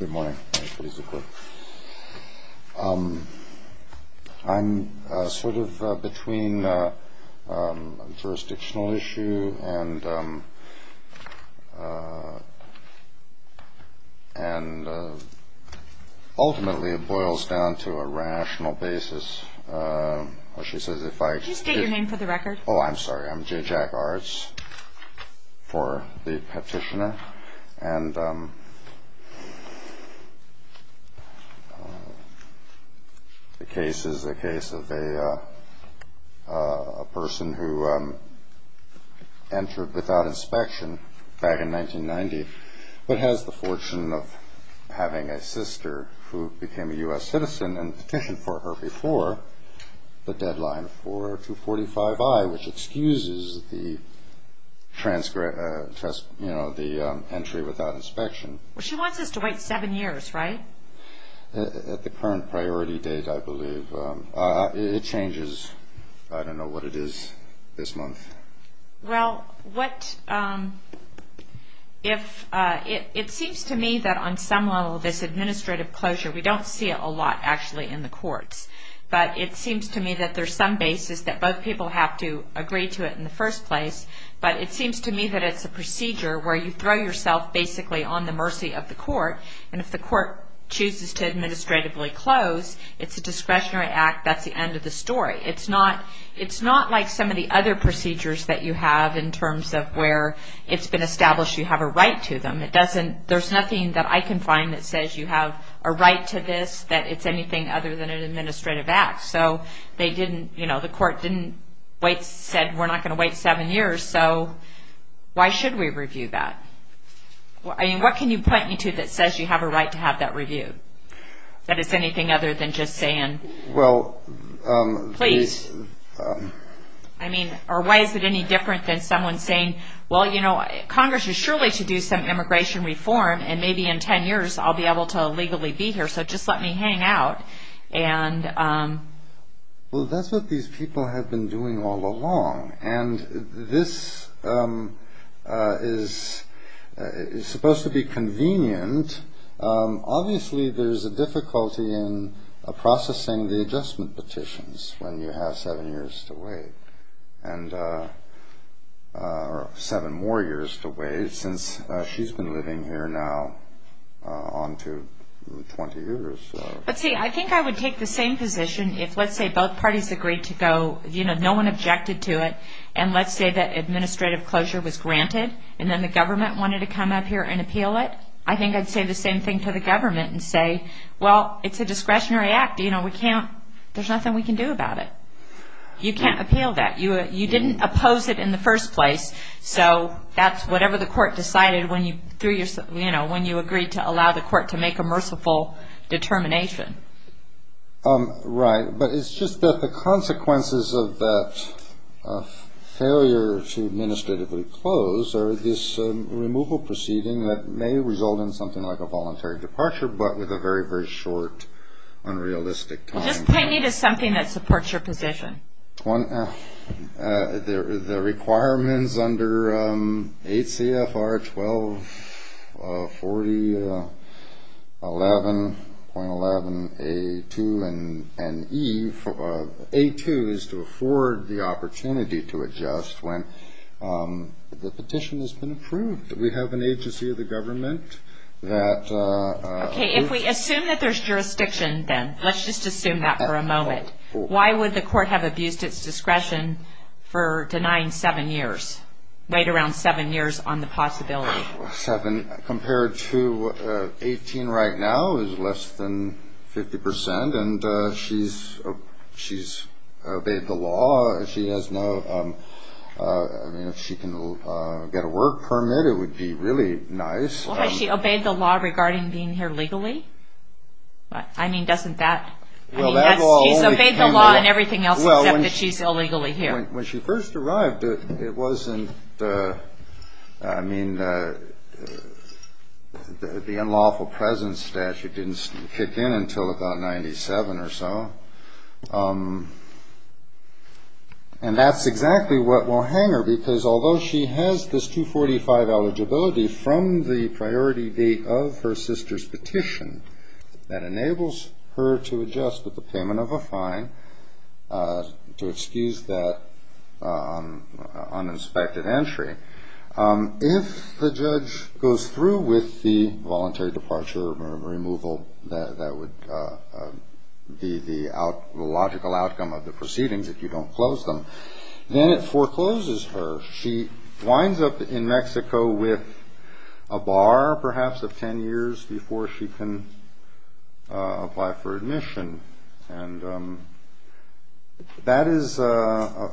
Good morning. I'm sort of between a jurisdictional issue and ultimately it boils down to a rational basis. Could you state your name for the record? Oh, I'm sorry. I'm J. Jack Arts for the Petitioner. The case is the case of a person who entered without inspection back in 1990, but has the fortune of having a sister who became a U.S. citizen and petitioned for her before the deadline for 245I, which excuses the entry without inspection. Well, she wants us to wait seven years, right? At the current priority date, I believe. It changes. I don't know what it is this month. Well, it seems to me that on some level this administrative closure, we don't see it a lot actually in the courts, but it seems to me that there's some basis that both people have to agree to it in the first place, but it seems to me that it's a procedure where you throw yourself basically on the mercy of the court, and if the court chooses to administratively close, it's a discretionary act. That's the end of the story. It's not like some of the other procedures that you have in terms of where it's been established you have a right to them. There's nothing that I can find that says you have a right to this, that it's anything other than an administrative act. So the court said we're not going to wait seven years, so why should we review that? What can you point me to that says you have a right to have that review, that it's anything other than just saying please? I mean, or why is it any different than someone saying, well, you know, Congress is surely to do some immigration reform, and maybe in ten years I'll be able to legally be here, so just let me hang out. Well, that's what these people have been doing all along, and this is supposed to be convenient. Obviously there's a difficulty in processing the adjustment petitions when you have seven years to wait, or seven more years to wait since she's been living here now on to 20 years. But see, I think I would take the same position if, let's say, both parties agreed to go, you know, no one objected to it, and let's say that administrative closure was granted, and then the government wanted to come up here and appeal it. I think I'd say the same thing to the government and say, well, it's a discretionary act, you know, we can't, there's nothing we can do about it. You can't appeal that. You didn't oppose it in the first place, so that's whatever the court decided when you, you know, when you agreed to allow the court to make a merciful determination. Right, but it's just that the consequences of that failure to administratively close are this removal proceeding that may result in something like a voluntary departure, but with a very, very short, unrealistic time. Just point me to something that supports your position. The requirements under 8 CFR 1240.11.11A2 and E, A2 is to afford the opportunity to adjust when the petition has been approved. We have an agency of the government that... Okay, if we assume that there's jurisdiction then, let's just assume that for a moment. Why would the court have abused its discretion for denying seven years, wait around seven years on the possibility? Seven compared to 18 right now is less than 50%, and she's obeyed the law. She has no, I mean, if she can get a work permit it would be really nice. Well, has she obeyed the law regarding being here legally? I mean, doesn't that... She's obeyed the law and everything else except that she's illegally here. When she first arrived it wasn't, I mean, the unlawful presence statute didn't kick in until about 97 or so, and that's exactly what will hang her because although she has this 245 eligibility from the priority date of her sister's petition that enables her to adjust with the payment of a fine to excuse that uninspected entry, if the judge goes through with the voluntary departure or removal that would be the logical outcome of the proceedings if you don't close them, then it forecloses her. She winds up in Mexico with a bar perhaps of 10 years before she can apply for admission, and that is a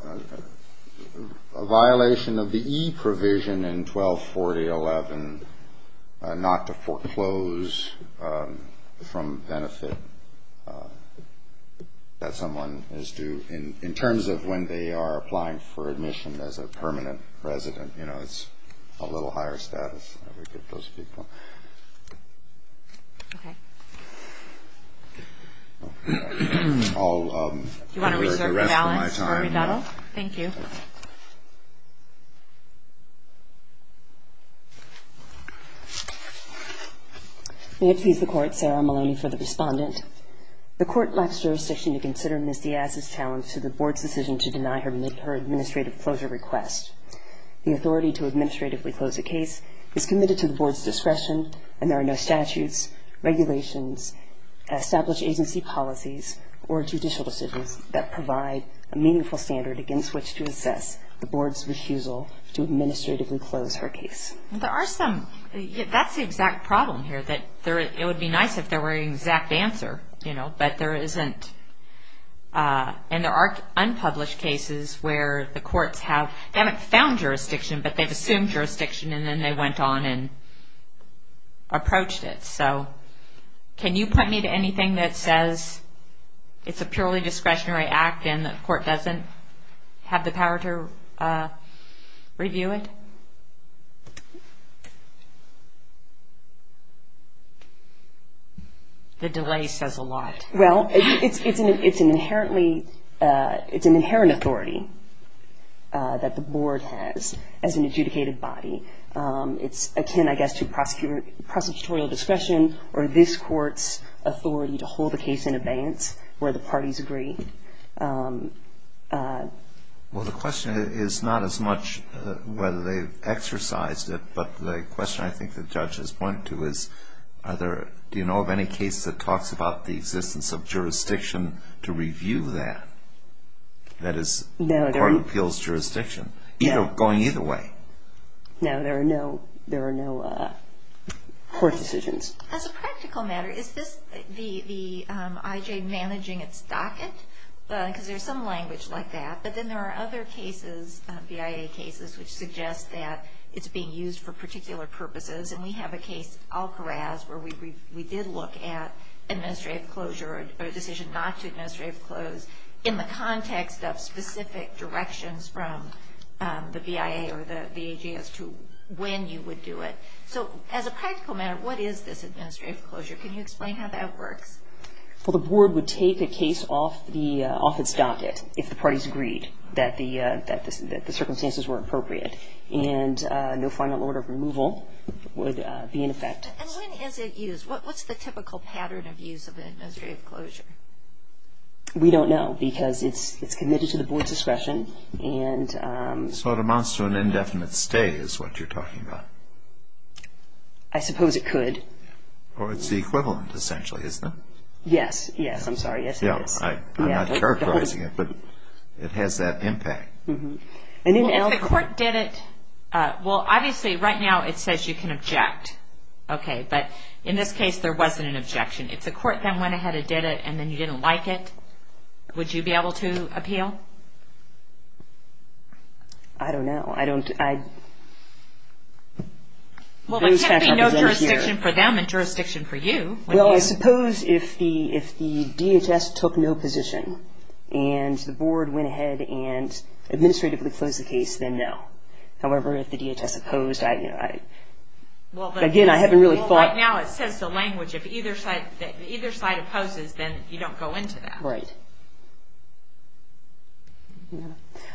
violation of the E provision in 124011 not to foreclose from benefit that someone is due in terms of when they are applying for admission as a permanent resident. You know, it's a little higher status. Okay. Do you want to reserve the balance for rebuttal? Thank you. May it please the Court, Sarah Maloney for the respondent. The Court lacks jurisdiction to consider Ms. Diaz's challenge to the Board's decision to deny her administrative closure request. The authority to administratively close a case is committed to the Board's discretion, and there are no statutes, regulations, established agency policies, or judicial decisions that provide a meaningful standard against which to assess the Board's refusal to administratively close her case. There are some. That's the exact problem here, that it would be nice if there were an exact answer, you know, but there isn't. And there are unpublished cases where the courts have found jurisdiction, but they've assumed jurisdiction and then they went on and approached it. So can you point me to anything that says it's a purely discretionary act and the Court doesn't have the power to review it? The delay says a lot. Well, it's an inherent authority that the Board has as an adjudicated body. It's akin, I guess, to prosecutorial discretion or this Court's authority to hold a case in abeyance where the parties agree. Well, the question is not as much whether they've exercised it, but the question I think the judge is pointing to is, do you know of any case that talks about the existence of jurisdiction to review that? That is, court appeals jurisdiction, going either way. No, there are no court decisions. As a practical matter, is this the IJ managing its docket? Because there's some language like that. But then there are other cases, BIA cases, which suggest that it's being used for particular purposes. And we have a case, Al-Kharaz, where we did look at administrative closure or a decision not to administrative close in the context of specific directions from the BIA or the VAJ as to when you would do it. So as a practical matter, what is this administrative closure? Can you explain how that works? Well, the Board would take a case off its docket if the parties agreed that the circumstances were appropriate. And no final order of removal would be in effect. And when is it used? What's the typical pattern of use of an administrative closure? We don't know because it's committed to the Board's discretion. So it amounts to an indefinite stay is what you're talking about. I suppose it could. Or it's the equivalent, essentially, isn't it? Yes, yes, I'm sorry. Yes, it is. I'm not characterizing it, but it has that impact. If the court did it, well, obviously right now it says you can object. But in this case, there wasn't an objection. If the court then went ahead and did it and then you didn't like it, would you be able to appeal? I don't know. Well, there can't be no jurisdiction for them and jurisdiction for you. Well, I suppose if the DHS took no position and the Board went ahead and administratively closed the case, then no. However, if the DHS opposed, again, I haven't really thought. Right now it says the language if either side opposes, then you don't go into that. Right.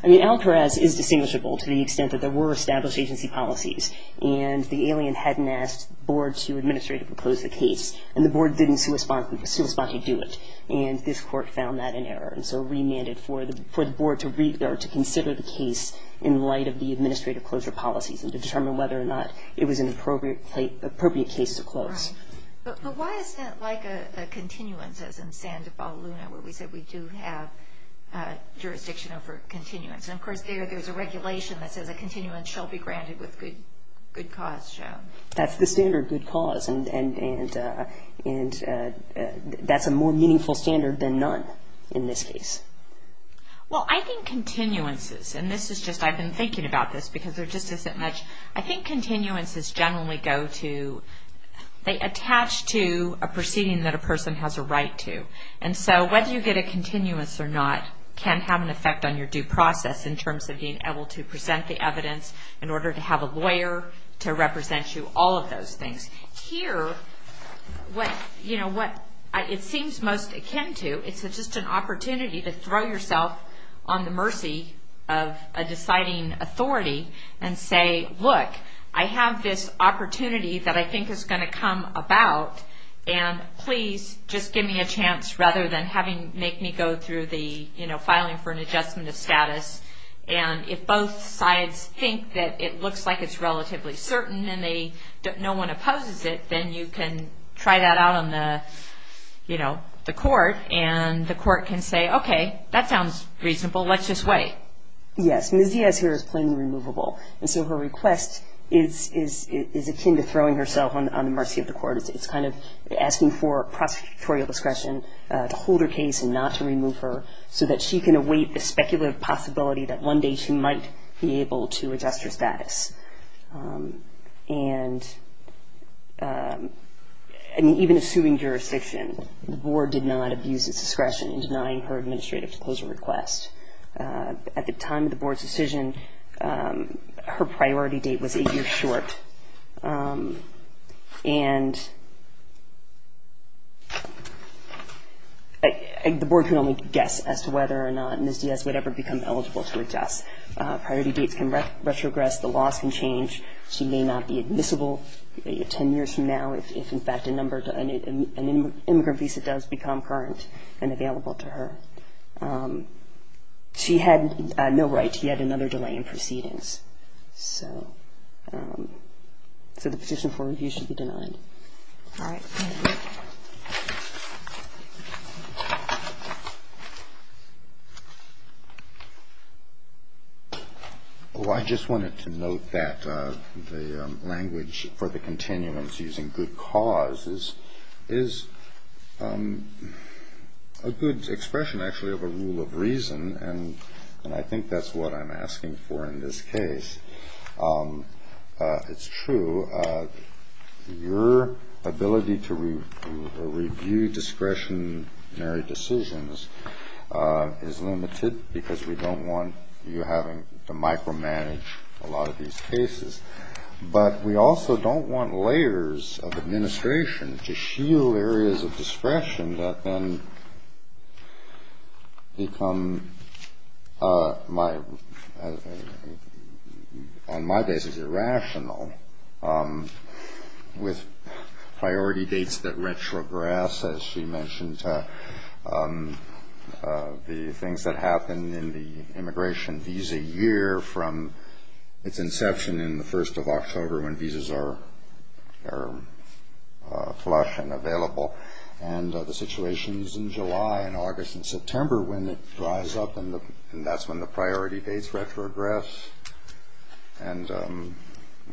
I mean, Al Perez is distinguishable to the extent that there were established agency policies and the alien hadn't asked the Board to administratively close the case and the Board didn't correspondingly do it. And this court found that in error and so remanded for the Board to consider the case in light of the administrative closure policies and to determine whether or not it was an appropriate case to close. Right. But why is that like a continuance, as in Santa Paula Luna, where we said we do have jurisdiction over continuance? And, of course, there's a regulation that says a continuance shall be granted with good cause shown. That's the standard good cause. And that's a more meaningful standard than none in this case. Well, I think continuances, and this is just I've been thinking about this because there just isn't much, I think continuances generally go to, they attach to a proceeding that a person has a right to. And so whether you get a continuance or not can have an effect on your due process in terms of being able to present the evidence in order to have a lawyer to represent you, all of those things. Here, what it seems most akin to, it's just an opportunity to throw yourself on the mercy of a deciding authority and say, look, I have this opportunity that I think is going to come about, and please just give me a chance rather than make me go through the filing for an adjustment of status. And if both sides think that it looks like it's relatively certain and no one opposes it, then you can try that out on the court, and the court can say, okay, that sounds reasonable. Let's just wait. Yes, Ms. Diaz here is plainly removable, and so her request is akin to throwing herself on the mercy of the court. It's kind of asking for prosecutorial discretion to hold her case and not to remove her so that she can await the speculative possibility that one day she might be able to adjust her status. And even assuming jurisdiction, the board did not abuse its discretion in denying her administrative disclosure request. At the time of the board's decision, her priority date was a year short, and the board can only guess as to whether or not Ms. Diaz would ever become eligible to adjust. Priority dates can retrogress. The laws can change. She may not be admissible 10 years from now if, in fact, an immigrant visa does become current and available to her. She had no right to yet another delay in proceedings. So the petition for review should be denied. All right. I just wanted to note that the language for the continuance using good causes is a good expression, actually, of a rule of reason, and I think that's what I'm asking for in this case. It's true. Your ability to review discretionary decisions is limited because we don't want you having to micromanage a lot of these cases, but we also don't want layers of administration to shield areas of discretion that then become my basis irrational with priority dates that retrogress, as she mentioned, the things that happen in the immigration visa year from its inception in the 1st of October when visas are flush and available, and the situations in July and August and September when it dries up, and that's when the priority dates retrogress, and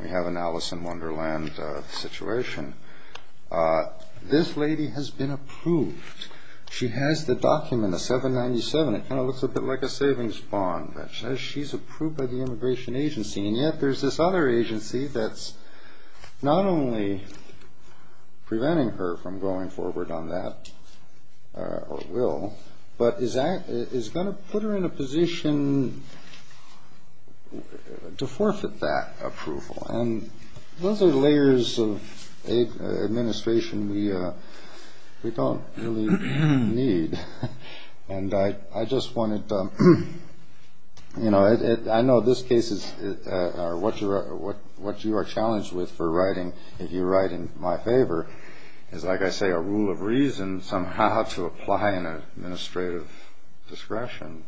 we have an Alice in Wonderland situation. This lady has been approved. She has the document, the 797. It kind of looks a bit like a savings bond that says she's approved by the immigration agency, and yet there's this other agency that's not only preventing her from going forward on that, or will, but is going to put her in a position to forfeit that approval, and those are layers of administration we don't really need, and I just wanted to, you know, I know this case is what you are challenged with for writing, if you write in my favor, is, like I say, a rule of reason somehow to apply an administrative discretion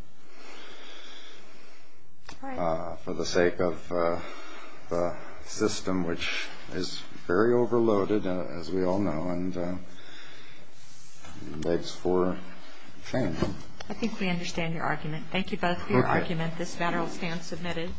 for the sake of a system which is very overloaded, as we all know, and begs for change. I think we understand your argument. Thank you both for your argument. This matter will stand submitted. Thank you.